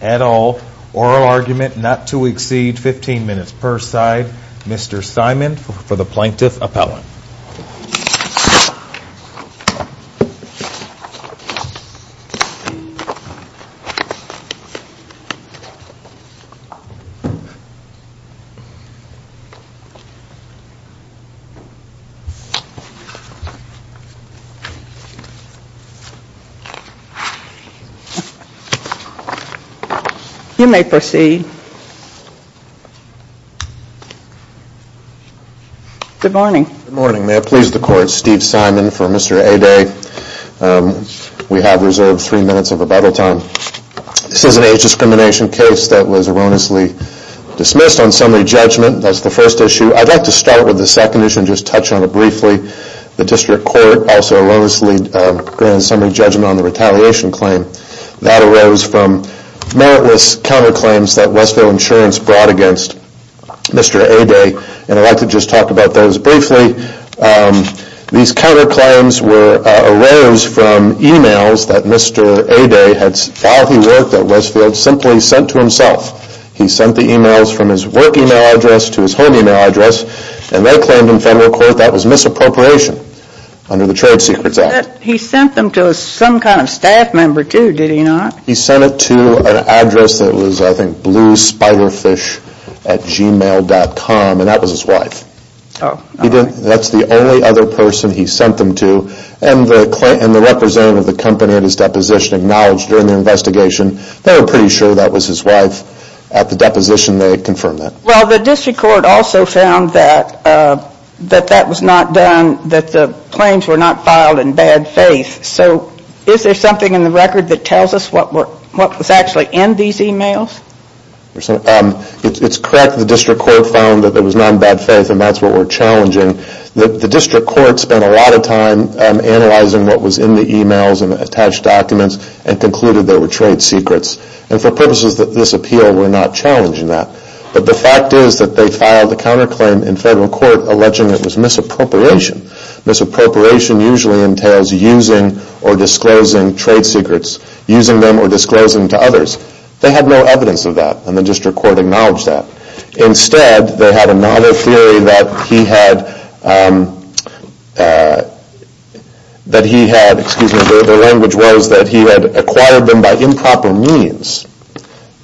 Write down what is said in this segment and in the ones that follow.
at all, oral argument not to exceed 15 minutes per side. Mr. Simon for the Plaintiff Appellant. You may proceed. Good morning. May it please the Court, Steve Simon for Mr. Aday. We have reserved three minutes of rebuttal time. This is an age discrimination case that was erroneously dismissed on summary judgment. That's the first issue. I'd like to start with the second issue and just touch on it briefly. The District Court also erroneously granted summary judgment on the retaliation claim. That arose from meritless counterclaims that Westfield Insurance brought against Mr. Aday and I'd like to just talk about those briefly. These counterclaims arose from emails that Mr. Aday had filed at Westfield simply sent to himself. He sent the emails from his work email address to his home email address and they claimed in federal court that was misappropriation under the Trade Secrets Act. He sent them to some kind of staff member too, did he not? He sent it to an address that was I think bluespiderfish at gmail.com and that was his wife. That's the only other person he sent them to and the representative of the company at his deposition acknowledged during the investigation they were pretty sure that was his wife. At the deposition they confirmed that. Well the District Court also found that that was not done, that the claims were not filed in bad faith. So is there something in the record that tells us what was actually in these emails? It's correct the District Court found that it was not in bad faith and that's what we're challenging. The District Court spent a lot of time analyzing what was in the emails and attached documents and concluded they were trade secrets. And for purposes of this appeal we're not challenging that. But the fact is that they filed a counterclaim in federal court alleging it was misappropriation. Misappropriation usually entails using or disclosing trade secrets, using them or disclosing to others. They had no evidence of that and the District Court acknowledged that. Instead they had another theory that he had acquired them by improper means.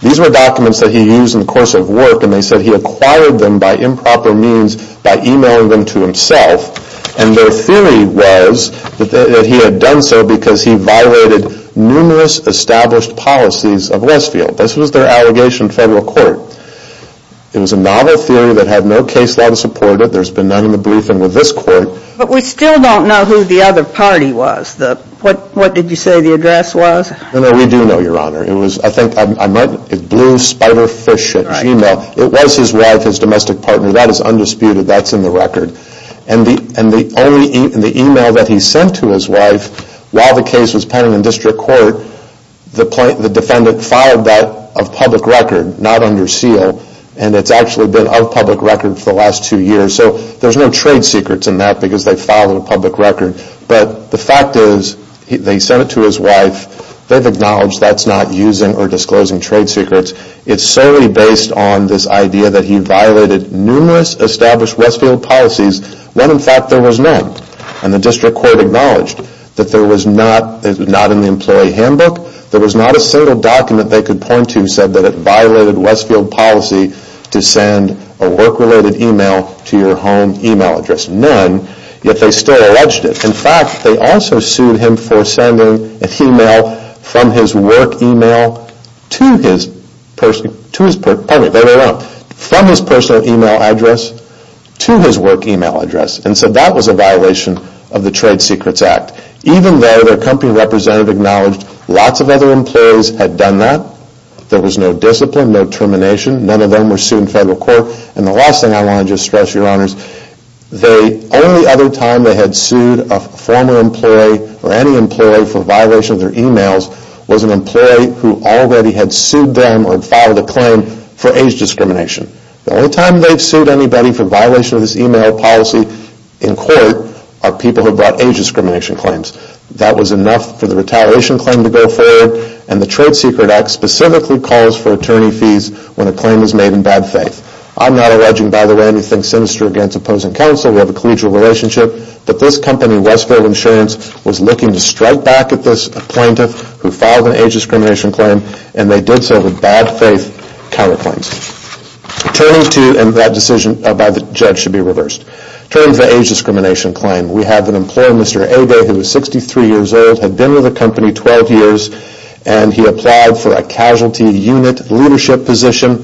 These were documents that he used in the course of work and they said he acquired them by improper means by emailing them to himself. And their theory was that he had done so because he violated numerous established policies of Westfield. This was their allegation in federal court. It was a novel theory that had no case law to support it. There's been none in the briefing with this court. But we still don't know who the other party was. What did you say the address was? No, we do know, Your Honor. It was Blue Spider Fish at Gmail. It was his wife, his domestic partner. That is undisputed. That's in the record. And the email that he sent to his wife while the case was pending in District Court, the defendant filed that of public record, not under seal. And it's actually been of public record for the last two years. So there's no trade secrets in that because they filed it in public record. But the fact is they sent it to his wife. They've acknowledged that's not using or disclosing trade secrets. It's solely based on this idea that he violated numerous established Westfield policies when in fact there was none. And the District Court acknowledged that there was not, not in the employee handbook, there was not a single document they could point to said that it violated Westfield policy to send a work-related email to your home email address. There was none, yet they still alleged it. In fact, they also sued him for sending an email from his work email to his personal email address to his work email address. And so that was a violation of the Trade Secrets Act. Even though their company representative acknowledged lots of other employees had done that, there was no discipline, no termination, none of them were sued in federal court. And the last thing I want to just stress, your honors, the only other time they had sued a former employee or any employee for violation of their emails was an employee who already had sued them or had filed a claim for age discrimination. The only time they've sued anybody for violation of this email policy in court are people who brought age discrimination claims. That was enough for the retaliation claim to go forward and the Trade Secrets Act specifically calls for attorney fees when a claim is made in bad faith. I'm not alleging, by the way, anything sinister against opposing counsel, we have a collegial relationship, that this company, Westfield Insurance, was looking to strike back at this plaintiff who filed an age discrimination claim and they did so with bad faith counterclaims. Turning to, and that decision by the judge should be reversed, turning to the age discrimination claim, we have an employer, Mr. Agay, who is 63 years old, had been with the company 12 years and he applied for a casualty unit leadership position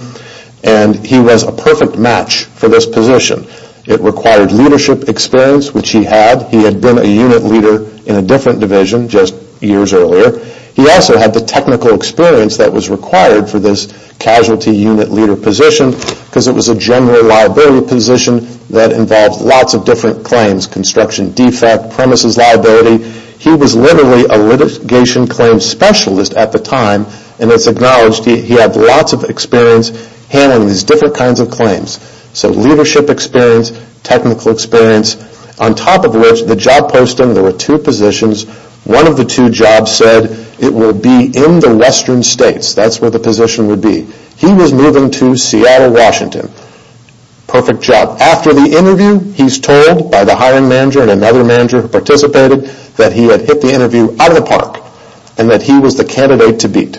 and he was a perfect match for this position. It required leadership experience, which he had. He had been a unit leader in a different division just years earlier. He also had the technical experience that was required for this casualty unit leader position because it was a general liability position that involved lots of different claims, construction defect, premises liability. He was literally a litigation claim specialist at the time and it's acknowledged he had lots of experience handling these different kinds of claims. So leadership experience, technical experience, on top of which the job posting, there were two positions, one of the two jobs said it would be in the western states, that's where the position would be. He was moving to Seattle, Washington. Perfect job. After the interview, he's told by the hiring manager and another manager who participated that he had hit the interview out of the park and that he was the candidate to beat.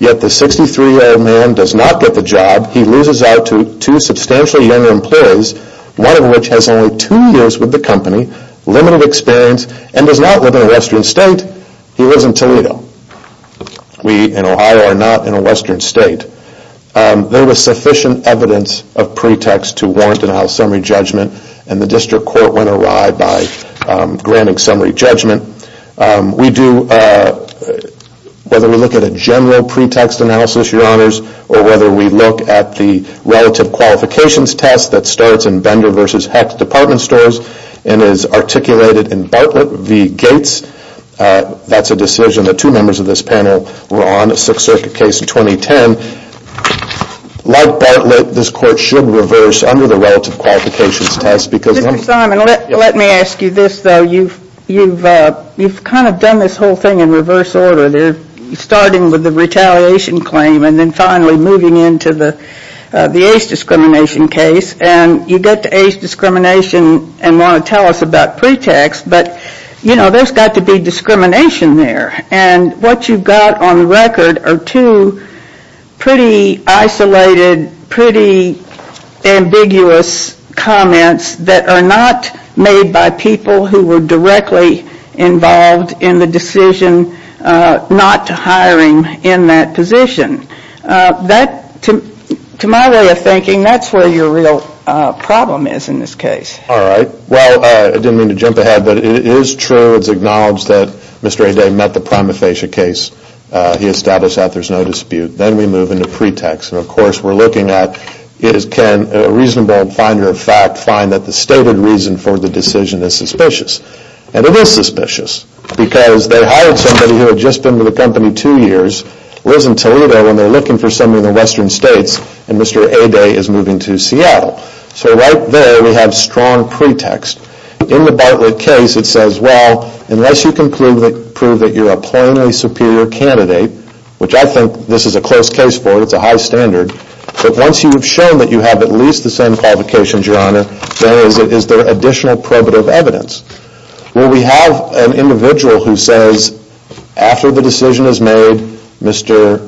Yet the 63 year old man does not get the job. He loses out to two substantially younger employees, one of which has only two years with the company, limited experience, and does not live in a western state. He lives in Toledo. We in Ohio are not in a western state. There was sufficient evidence of pretext to warrant a summary judgment and the district court went awry by granting summary judgment. We do, whether we look at a general pretext analysis, your honors, or whether we look at the relative qualifications test that starts in Bender v. Hecht department stores and is articulated in Bartlett v. Gates. That's a decision that two members of this panel were on, a Sixth Circuit case in 2010. Like Bartlett, this court should reverse under the relative qualifications test. Mr. Simon, let me ask you this though. You've kind of done this whole thing in reverse order. Starting with the retaliation claim and then finally moving into the age discrimination case. You get to age discrimination and want to tell us about pretext, but there's got to be discrimination there. What you've got on the record are two pretty isolated, pretty ambiguous comments that are not made by people who were directly involved in the decision not hiring in that position. To my way of thinking, that's where your real problem is in this case. All right. Well, I didn't mean to jump ahead, but it is true. It's acknowledged that Mr. Aday met the prima facie case. He established that there's no dispute. Then we move into pretext. Of course, we're looking at can a reasonable finder of fact find that the stated reason for the decision is suspicious? And it is suspicious because they hired somebody who had just been with the company two years, lives in Toledo, and they're looking for somebody in the western states, and Mr. Aday is moving to Seattle. So right there, we have strong pretext. In the Bartlett case, it says, well, unless you can prove that you're a plainly superior candidate, which I think this is a close case for, it's a high standard, but once you've shown that you have at least the same qualifications, Your Honor, then is there additional probative evidence? Well, we have an individual who says, after the decision is made, Mr.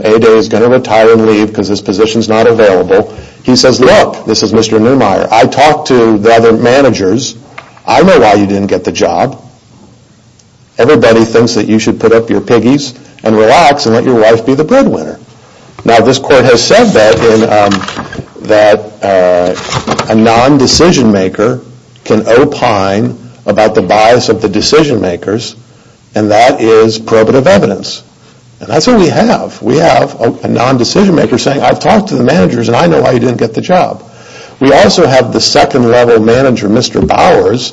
Aday is going to retire and leave because his position is not available. He says, look, this is Mr. Neumeier. I talked to the other managers. I know why you didn't get the job. Everybody thinks that you should put up your piggies and relax and let your wife be the breadwinner. Now, this court has said that a non-decision maker can opine about the bias of the decision makers, and that is probative evidence. And that's what we have. We have a non-decision maker saying, I've talked to the managers and I know why you didn't get the job. We also have the second level manager, Mr. Bowers.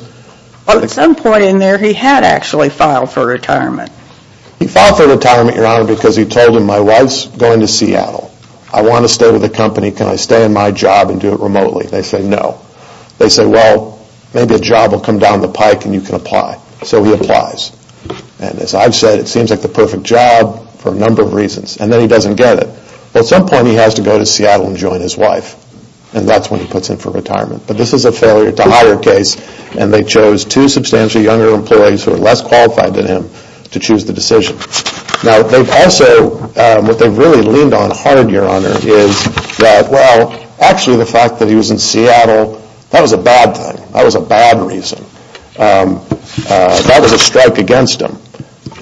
Well, at some point in there, he had actually filed for retirement. He filed for retirement, Your Honor, because he told him, my wife's going to Seattle. I want to stay with the company. Can I stay in my job and do it remotely? They say, no. They say, well, maybe a job will come down the pike and you can apply. So he applies. And as I've said, it seems like the perfect job for a number of reasons. And then he doesn't get it. At some point, he has to go to Seattle and join his wife. And that's when he puts in for retirement. But this is a failure to hire case, and they chose two substantially younger employees who are less qualified than him to choose the decision. Now, they've also, what they've really leaned on hard, Your Honor, is that, well, actually the fact that he was in Seattle, that was a bad thing. That was a bad reason. That was a strike against him.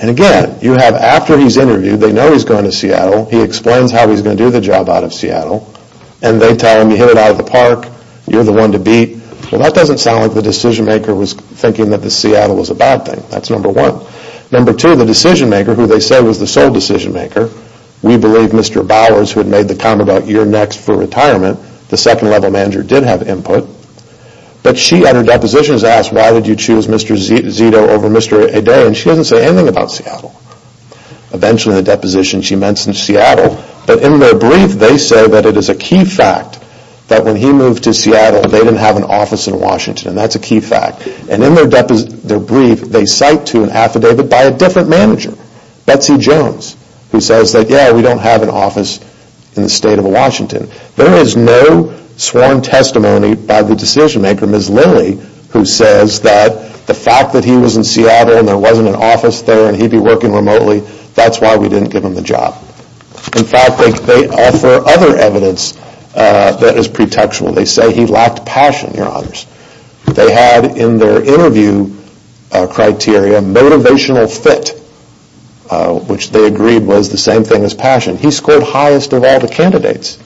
And again, you have, after he's interviewed, they know he's going to Seattle, he explains how he's going to do the job out of Seattle, and they tell him, you hit it out of the park, you're the one to beat. Well, that doesn't sound like the decision-maker was thinking that Seattle was a bad thing. That's number one. Number two, the decision-maker, who they say was the sole decision-maker, we believe Mr. Bowers, who had made the comment about year next for retirement, the second level manager, did have input. But she, at her depositions, asked, why did you choose Mr. Zito over Mr. Adair? And she doesn't say anything about Seattle. Eventually, in the deposition, she mentions Seattle. But in their brief, they say that it is a key fact that when he moved to Seattle, they didn't have an office in Washington. And that's a key fact. And in their brief, they cite to an affidavit by a different manager, Betsy Jones, who says that, yeah, we don't have an office in the state of Washington. There is no sworn testimony by the decision-maker, Ms. Lilly, who says that the fact that he was in Seattle and there wasn't an office there and he'd be working remotely, that's why we didn't give him the job. In fact, they offer other evidence that is pretextual. They say he lacked passion, Your Honors. They had, in their interview criteria, motivational fit, which they agreed was the same thing as passion. He scored highest of all the candidates.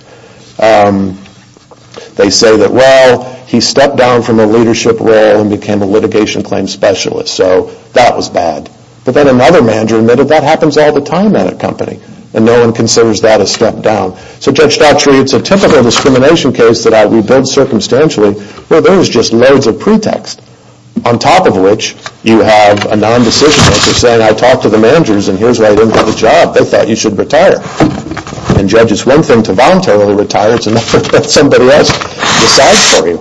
They say that, well, he stepped down from a leadership role and became a litigation claims specialist. So that was bad. But then another manager admitted that happens all the time at a company. And no one considers that a step down. So Judge Stotts reads a typical discrimination case that I rebuild circumstantially, where there is just loads of pretext. On top of which, you have a non-decision-maker saying, I talked to the managers and here's why you didn't get the job. They thought you should retire. And, Judge, it's one thing to voluntarily retire. It's another that somebody else decides for you.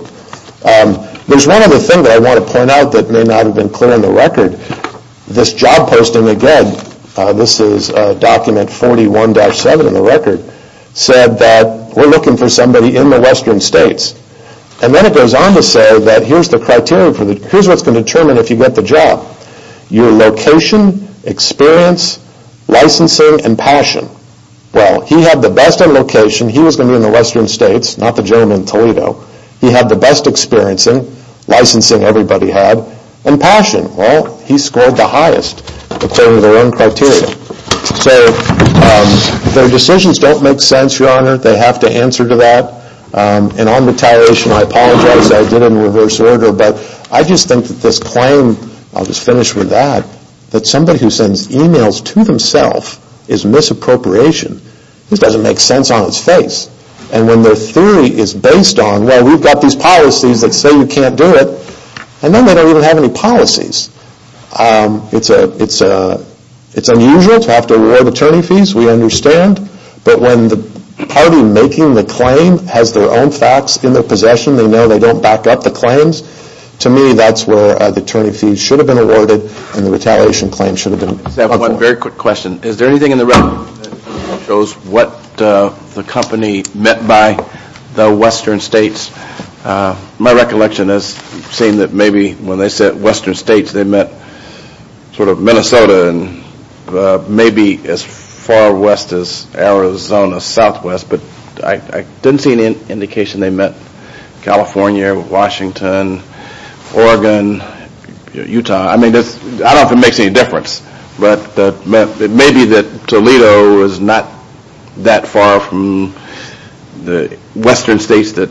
There's one other thing that I want to point out that may not have been clear in the record. This job posting, again, this is document 41-7 in the record, said that we're looking for somebody in the western states. And then it goes on to say that here's what's going to determine if you get the job. Your location, experience, licensing, and passion. Well, he had the best in location. He was going to be in the western states, not the gentleman in Toledo. He had the best experience in, licensing everybody had, and passion. Well, he scored the highest according to their own criteria. So their decisions don't make sense, Your Honor. They have to answer to that. And on retiration, I apologize. I did it in reverse order. But I just think that this claim, I'll just finish with that, that somebody who sends emails to themselves is misappropriation. This doesn't make sense on its face. And when their theory is based on, well, we've got these policies that say you can't do it, and then they don't even have any policies. It's unusual to have to award attorney fees, we understand. But when the party making the claim has their own facts in their possession, they know they don't back up the claims. To me, that's where the attorney fees should have been awarded and the retaliation claim should have been. I just have one very quick question. Is there anything in the record that shows what the company meant by the western states? My recollection is saying that maybe when they said western states, they meant sort of Minnesota and maybe as far west as Arizona, southwest, but I didn't see any indication they meant California, Washington, Oregon, Utah. I mean, I don't know if it makes any difference, but it may be that Toledo is not that far from the western states that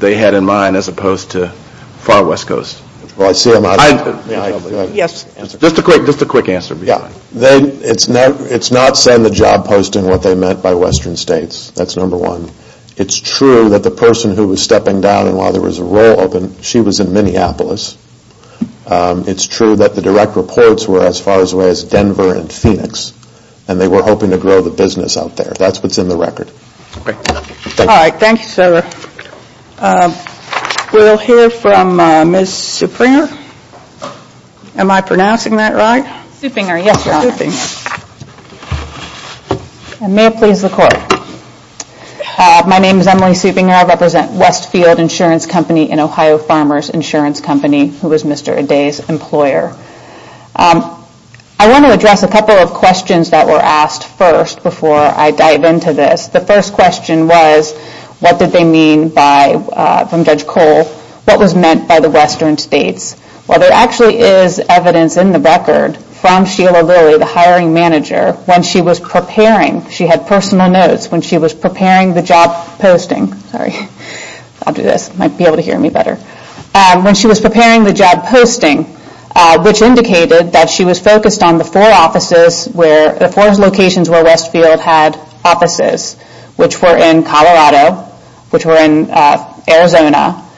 they had in mind as opposed to far west coast. Just a quick answer. It's not saying the job posting what they meant by western states, that's number one. It's true that the person who was stepping down and while there was a roll open, she was in Minneapolis. It's true that the direct reports were as far away as Denver and Phoenix, and they were hoping to grow the business out there. That's what's in the record. Alright, thank you sir. We'll hear from Ms. Supinger. Am I pronouncing that right? Supinger, yes your honor. May it please the court. My name is Emily Supinger. I represent Westfield Insurance Company and Ohio Farmers Insurance Company, who was Mr. Aday's employer. I want to address a couple of questions that were asked first before I dive into this. The first question was, what did they mean by, from Judge Cole, what was meant by the western states? Well there actually is evidence in the record from Sheila Lilley, the hiring manager, when she was preparing, she had personal notes when she was preparing the job posting, sorry, I'll do this, you might be able to hear me better. When she was preparing the job posting, which indicated that she was focused on the four offices, the four locations where Westfield had offices, which were in Colorado, which were in Arizona,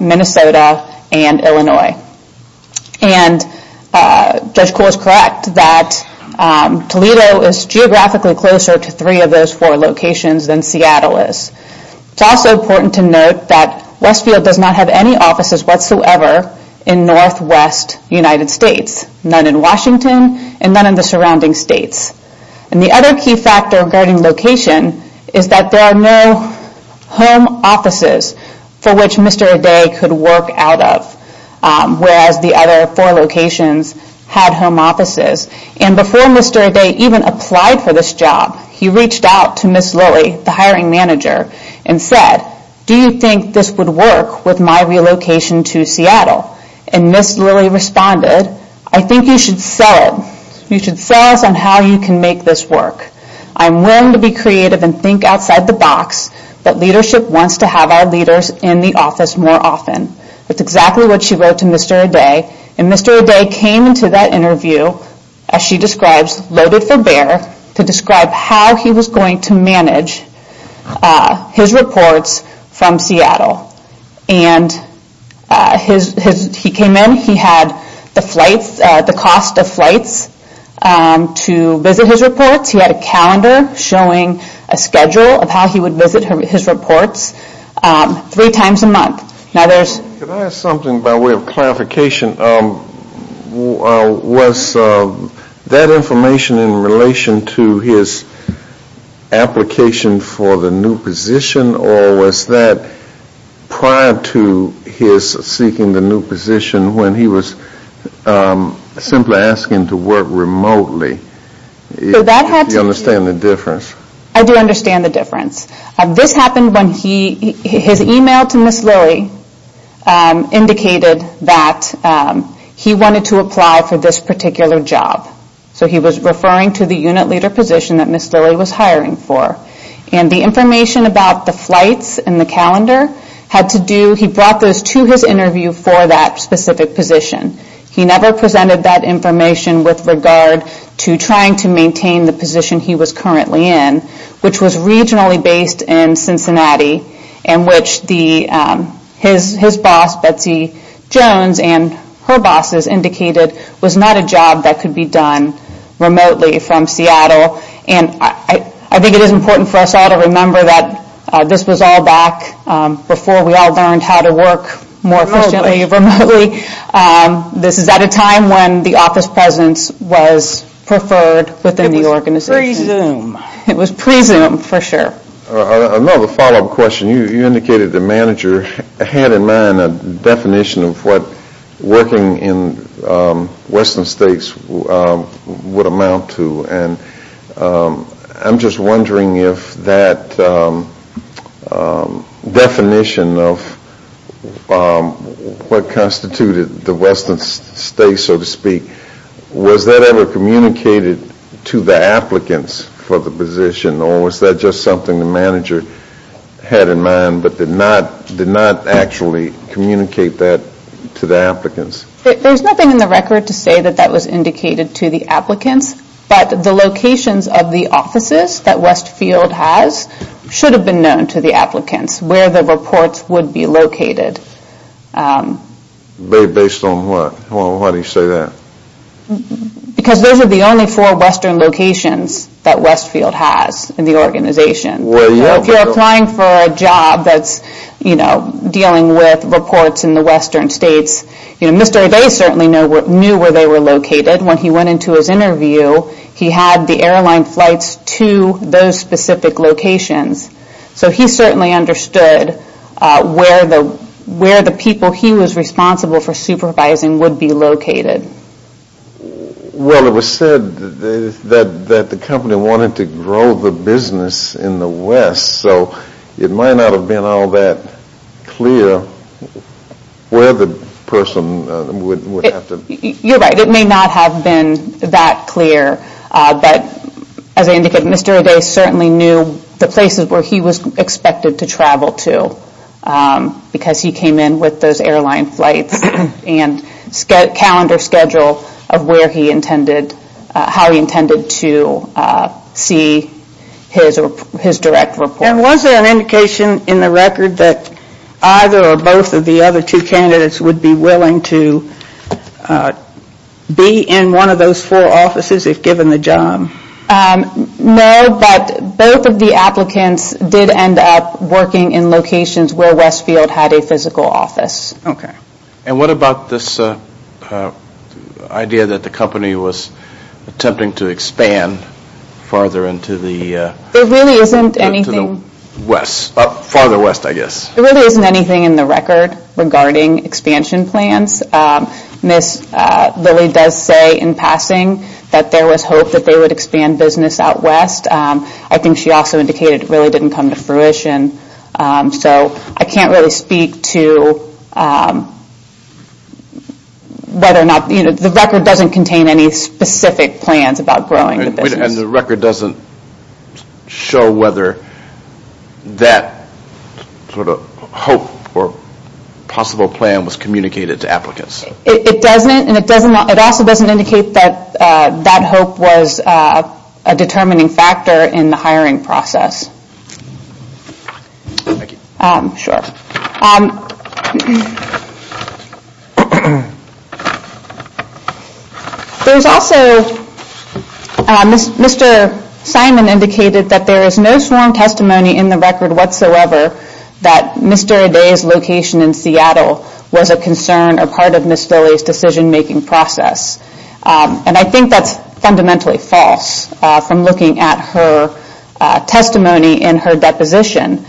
Minnesota, and Illinois. And Judge Cole is correct that Toledo is geographically closer to three of those four locations than Seattle is. It's also important to note that Westfield does not have any offices whatsoever in northwest United States. None in Washington and none in the surrounding states. The other key factor regarding location is that there are no home offices for which Mr. Aday could work out of, whereas the other four locations had home offices. Before Mr. Aday even applied for this job, he reached out to Ms. Lilley, the hiring manager, and said, do you think this would work with my relocation to Seattle? And Ms. Lilley responded, I think you should sell us on how you can make this work. I'm willing to be creative and think outside the box, but leadership wants to have our leaders in the office more often. That's exactly what she wrote to Mr. Aday. And Mr. Aday came into that interview, as she describes, loaded for bear, to describe how he was going to manage his reports from Seattle. He came in, he had the cost of flights to visit his reports, he had a calendar showing a schedule of how he would visit his reports three times a month. Can I ask something by way of clarification? Was that information in relation to his application for the new position, or was that prior to his seeking the new position when he was simply asking to work remotely? I do understand the difference. This happened when his email to Ms. Lilley indicated that he wanted to apply for this particular job. So he was referring to the unit leader position that Ms. Lilley was hiring for. And the information about the flights and the calendar, he brought those to his interview for that specific position. He never presented that information with regard to trying to maintain the position he was currently in, which was regionally based in Cincinnati, and which his boss, Betsy Jones, and her bosses indicated was not a job that could be done remotely from Seattle. And I think it is important for us all to remember that this was all back before we all learned how to work more efficiently remotely. This is at a time when the office presence was preferred within the organization. It was pre-Zoom. It was pre-Zoom for sure. Another follow-up question. You indicated the manager had in mind a definition of what working in western states would amount to. I'm just wondering if that definition of what constituted the western states, so to speak, was that ever communicated to the applicants for the position, or was that just something the manager had in mind but did not actually communicate that to the applicants? There's nothing in the record to say that that was indicated to the applicants, but the locations of the offices that Westfield has should have been known to the applicants where the reports would be located. Based on what? Why do you say that? Because those are the only four western locations that Westfield has in the organization. If you're applying for a job that's dealing with reports in the western states, Mr. O'Day certainly knew where they were located. When he went into his interview, he had the airline flights to those specific locations, so he certainly understood where the people he was responsible for supervising would be located. Well, it was said that the company wanted to grow the business in the west, so it might not have been all that clear where the person would have to... You're right, it may not have been that clear, but as I indicated, Mr. O'Day certainly knew the places where he was expected to travel to because he came in with those airline flights and calendar schedule of where he intended, how he intended to see his direct reports. And was there an indication in the record that either or both of the other two candidates would be willing to be in one of those four offices if given the job? No, but both of the applicants did end up working in locations where Westfield had a physical office. And what about this idea that the company was attempting to expand further into the... There really isn't anything... Farther west, I guess. There really isn't anything in the record regarding expansion plans. Ms. Lilly does say in passing that there was hope that they would expand business out west. I think she also indicated it really didn't come to fruition, so I can't really speak to whether or not... The record doesn't contain any specific plans about growing the business. And the record doesn't show whether that sort of hope or possible plan was communicated to applicants. It doesn't and it also doesn't indicate that that hope was a determining factor in the hiring process. Thank you. Sure. There's also... Mr. Simon indicated that there is no sworn testimony in the record whatsoever that Mr. Day's location in Seattle was a concern or part of Ms. Lilly's decision making process. And I think that's fundamentally false from looking at her testimony in her deposition.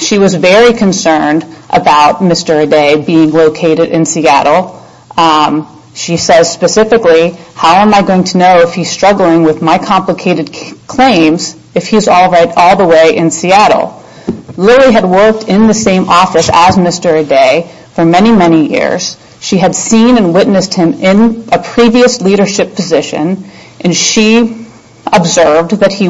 She was very concerned about Mr. Day being located in Seattle. She says specifically, how am I going to know if he's struggling with my complicated claims if he's all the way in Seattle? Lilly had worked in the same office as Mr. Day for many, many years. She had seen and witnessed him in a previous leadership position. And she observed that he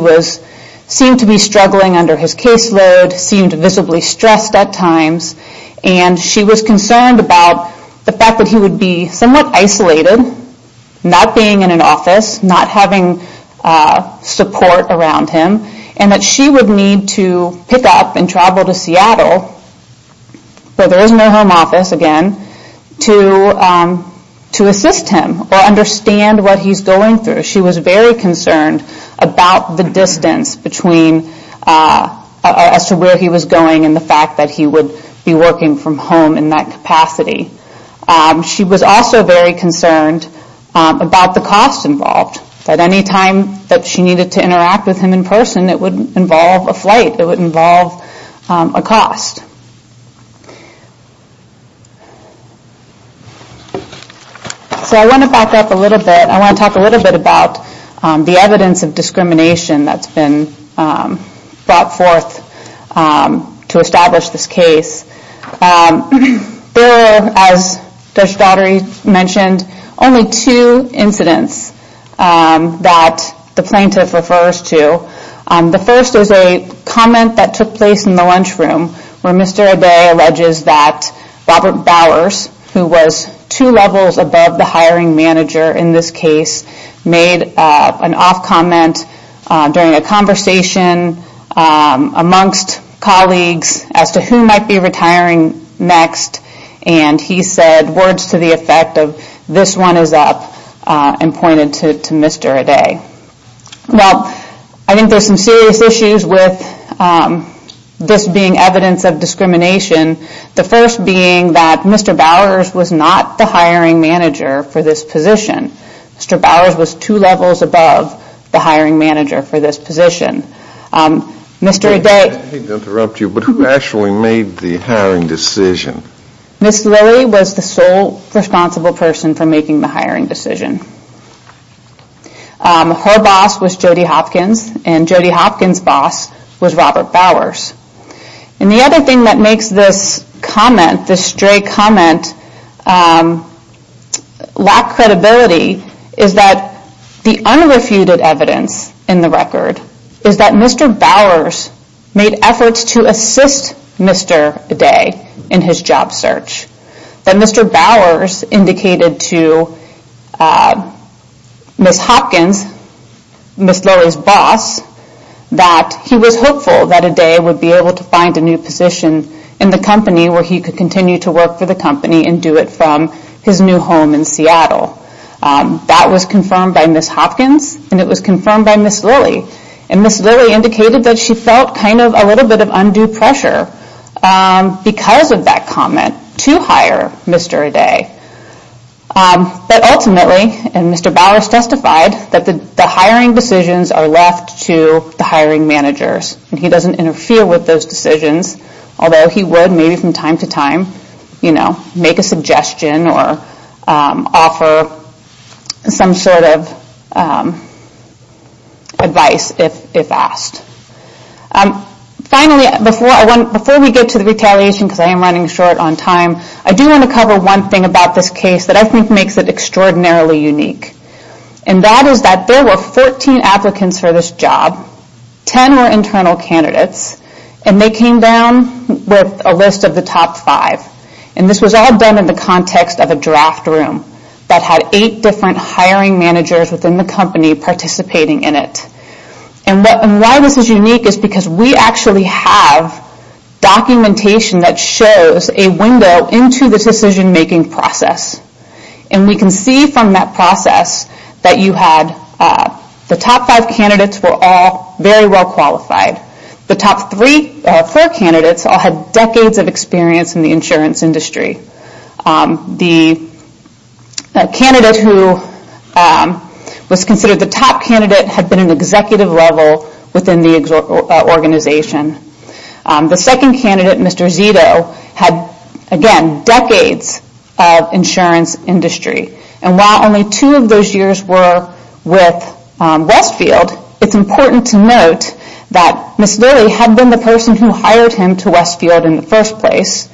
seemed to be struggling under his caseload, seemed visibly stressed at times. And she was concerned about the fact that he would be somewhat isolated, not being in an office, not having support around him. And that she would need to pick up and travel to Seattle, where there is no home office again, to assist him or understand what he's going through. She was very concerned about the distance as to where he was going and the fact that he would be working from home in that capacity. She was also very concerned about the cost involved. That any time that she needed to interact with him in person, it would involve a flight, it would involve a cost. So I want to back up a little bit. I want to talk a little bit about the evidence of discrimination that's been brought forth to establish this case. There were, as Judge Daughtery mentioned, only two incidents that the plaintiff refers to. The first is a comment that took place in the lunchroom where Mr. O'Dea alleges that Robert Bowers, who was two levels above the hiring manager in this case, made an off comment during a conversation amongst colleagues as to who might be retiring next. And he said words to the effect of, this one is up, and pointed to Mr. O'Dea. Well, I think there's some serious issues with this being evidence of discrimination. The first being that Mr. Bowers was not the hiring manager for this position. Mr. Bowers was two levels above the hiring manager for this position. Mr. O'Dea... I hate to interrupt you, but who actually made the hiring decision? Ms. Lilly was the sole responsible person for making the hiring decision. Her boss was Jody Hopkins, and Jody Hopkins' boss was Robert Bowers. And the other thing that makes this comment, this stray comment, lack credibility, is that the unrefuted evidence in the record is that Mr. Bowers made efforts to assist Mr. O'Dea in his job search. That Mr. Bowers indicated to Ms. Hopkins, Ms. Lilly's boss, that he was hopeful that O'Dea would be able to find a new position in the company where he could continue to work for the company and do it from his new home in Seattle. That was confirmed by Ms. Hopkins, and it was confirmed by Ms. Lilly. And Ms. Lilly indicated that she felt kind of a little bit of undue pressure because of that comment to hire Mr. O'Dea. But ultimately, and Mr. Bowers testified, that the hiring decisions are left to the hiring managers, and he doesn't interfere with those decisions. Although he would, maybe from time to time, make a suggestion or offer some sort of advice if asked. Finally, before we get to the retaliation, because I am running short on time, I do want to cover one thing about this case that I think makes it extraordinarily unique. And that is that there were 14 applicants for this job. Ten were internal candidates, and they came down with a list of the top five. And this was all done in the context of a draft room that had eight different hiring managers within the company participating in it. And why this is unique is because we actually have documentation that shows a window into the decision making process. And we can see from that process that the top five candidates were all very well qualified. The top four candidates all had decades of experience in the insurance industry. The candidate who was considered the top candidate had been an executive level within the organization. The second candidate, Mr. Zito, had, again, decades of insurance industry. And while only two of those years were with Westfield, it's important to note that Ms. Lilly had been the person who hired him to Westfield in the first place.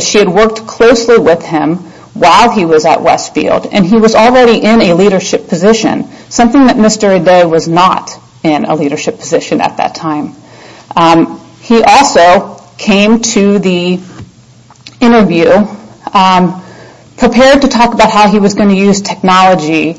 She had worked closely with him while he was at Westfield, and he was already in a leadership position. Something that Mr. O'Day was not in a leadership position at that time. He also came to the interview prepared to talk about how he was going to use technology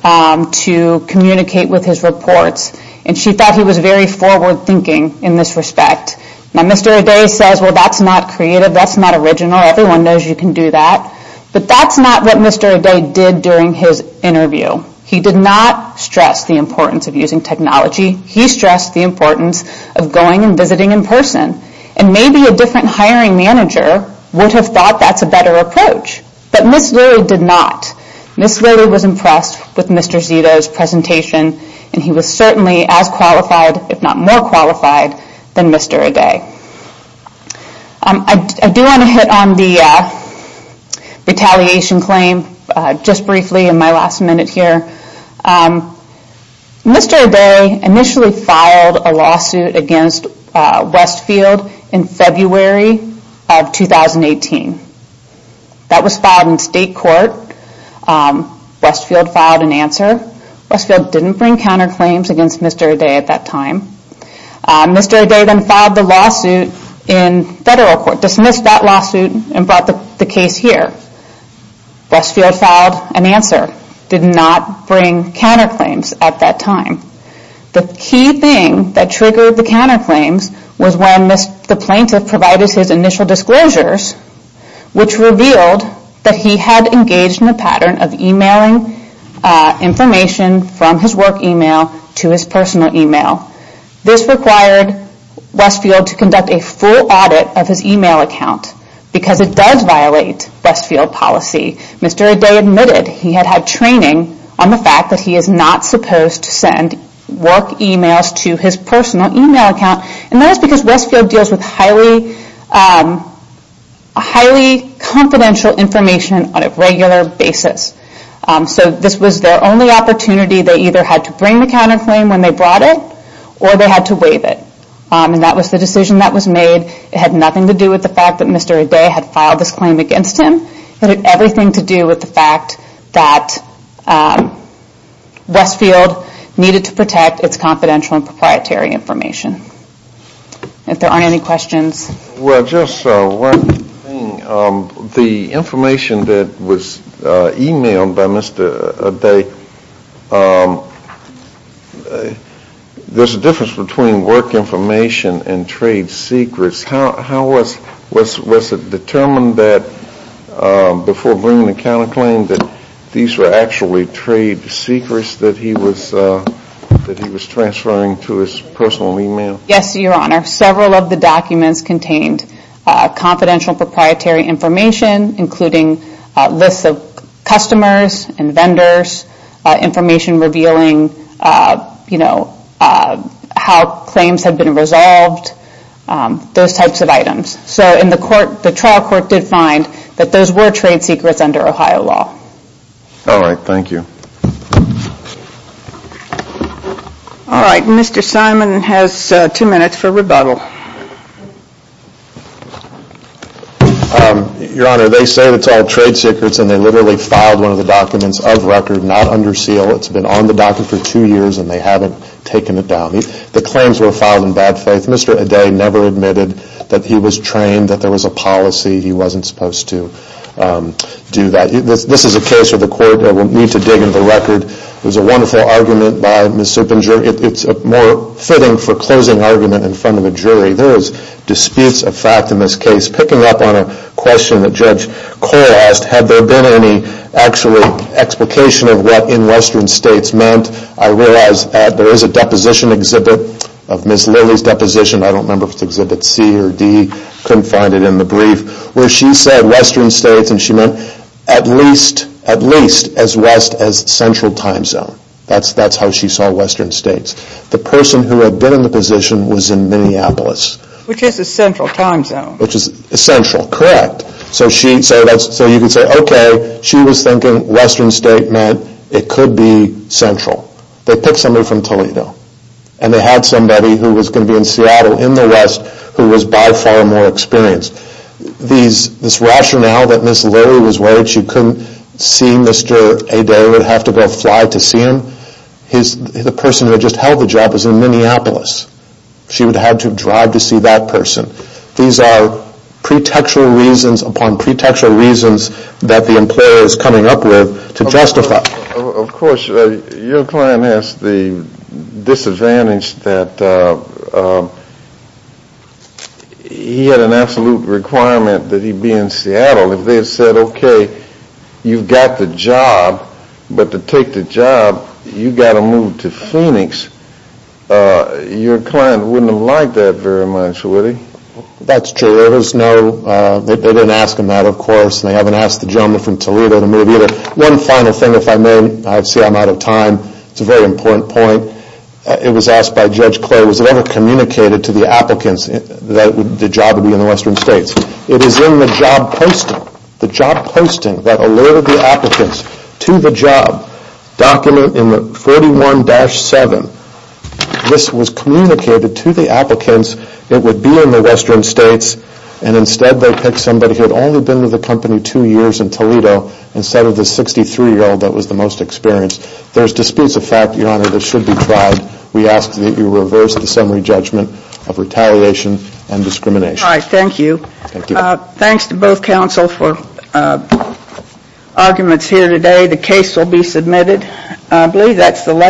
to communicate with his reports. And she thought he was very forward thinking in this respect. Now, Mr. O'Day says, well, that's not creative, that's not original, everyone knows you can do that. But that's not what Mr. O'Day did during his interview. He did not stress the importance of using technology. He stressed the importance of going and visiting in person. And maybe a different hiring manager would have thought that's a better approach. But Ms. Lilly did not. Ms. Lilly was impressed with Mr. Zito's presentation, and he was certainly as qualified, if not more qualified, than Mr. O'Day. I do want to hit on the retaliation claim just briefly in my last minute here. Mr. O'Day initially filed a lawsuit against Westfield in February of 2018. That was filed in state court. Westfield filed an answer. Westfield didn't bring counterclaims against Mr. O'Day at that time. Mr. O'Day then filed the lawsuit in federal court, dismissed that lawsuit, and brought the case here. Westfield filed an answer, did not bring counterclaims at that time. The key thing that triggered the counterclaims was when the plaintiff provided his initial disclosures, which revealed that he had engaged in a pattern of emailing information from his work email to his personal email. This required Westfield to conduct a full audit of his email account, because it does violate Westfield policy. Mr. O'Day admitted he had had training on the fact that he is not supposed to send work emails to his personal email account. That is because Westfield deals with highly confidential information on a regular basis. This was their only opportunity. They either had to bring the counterclaim when they brought it, or they had to waive it. That was the decision that was made. It had nothing to do with the fact that Mr. O'Day had filed this claim against him. It had everything to do with the fact that Westfield needed to protect its confidential and proprietary information. If there aren't any questions. Well, just one thing. The information that was emailed by Mr. O'Day, there's a difference between work information and trade secrets. Was it determined before bringing the counterclaim that these were actually trade secrets that he was transferring to his personal email? Yes, your honor. Several of the documents contained confidential proprietary information, including lists of customers and vendors, information revealing how claims had been resolved, those types of items. The trial court did find that those were trade secrets under Ohio law. All right, thank you. Mr. Simon has two minutes for rebuttal. Your honor, they say it's all trade secrets, and they literally filed one of the documents of record, not under seal. It's been on the docket for two years, and they haven't taken it down. The claims were filed in bad faith. Mr. O'Day never admitted that he was trained, that there was a policy. He wasn't supposed to do that. This is a case where the court will need to dig into the record. It was a wonderful argument by Ms. Supinger. It's more fitting for closing argument in front of a jury. There was disputes of fact in this case. Picking up on a question that Judge Cole asked, had there been any actual explication of what in western states meant, I realize that there is a deposition exhibit of Ms. Lilly's deposition. I don't remember if it's exhibit C or D. Couldn't find it in the brief, where she said western states, and she meant at least as west as central time zone. That's how she saw western states. The person who had been in the position was in Minneapolis. Which is a central time zone. Which is central, correct. So you could say, okay, she was thinking western state meant it could be central. They picked somebody from Toledo. And they had somebody who was going to be in Seattle, in the west, who was by far more experienced. This rationale that Ms. Lilly was worried she couldn't see Mr. Adair, would have to go fly to see him. The person who had just held the job was in Minneapolis. She would have had to drive to see that person. These are pretextual reasons upon pretextual reasons that the employer is coming up with to justify. Of course, your client has the disadvantage that he had an absolute requirement that he be in Seattle. If they had said, okay, you've got the job, but to take the job, you've got to move to Phoenix, your client wouldn't have liked that very much, would he? That's true. There was no, they didn't ask him that, of course. And they haven't asked the gentleman from Toledo to move either. One final thing, if I may, I see I'm out of time. It's a very important point. It was asked by Judge Clay, was it ever communicated to the applicants that the job would be in the western states? It is in the job posting. The job posting that alerted the applicants to the job document in 41-7. This was communicated to the applicants it would be in the western states. And instead they picked somebody who had only been with the company two years in Toledo instead of the 63-year-old that was the most experienced. There's disputes of fact, Your Honor, that should be tried. We ask that you reverse the summary judgment of retaliation and discrimination. All right. Thank you. Thanks to both counsel for arguments here today. The case will be submitted. I believe that's the last.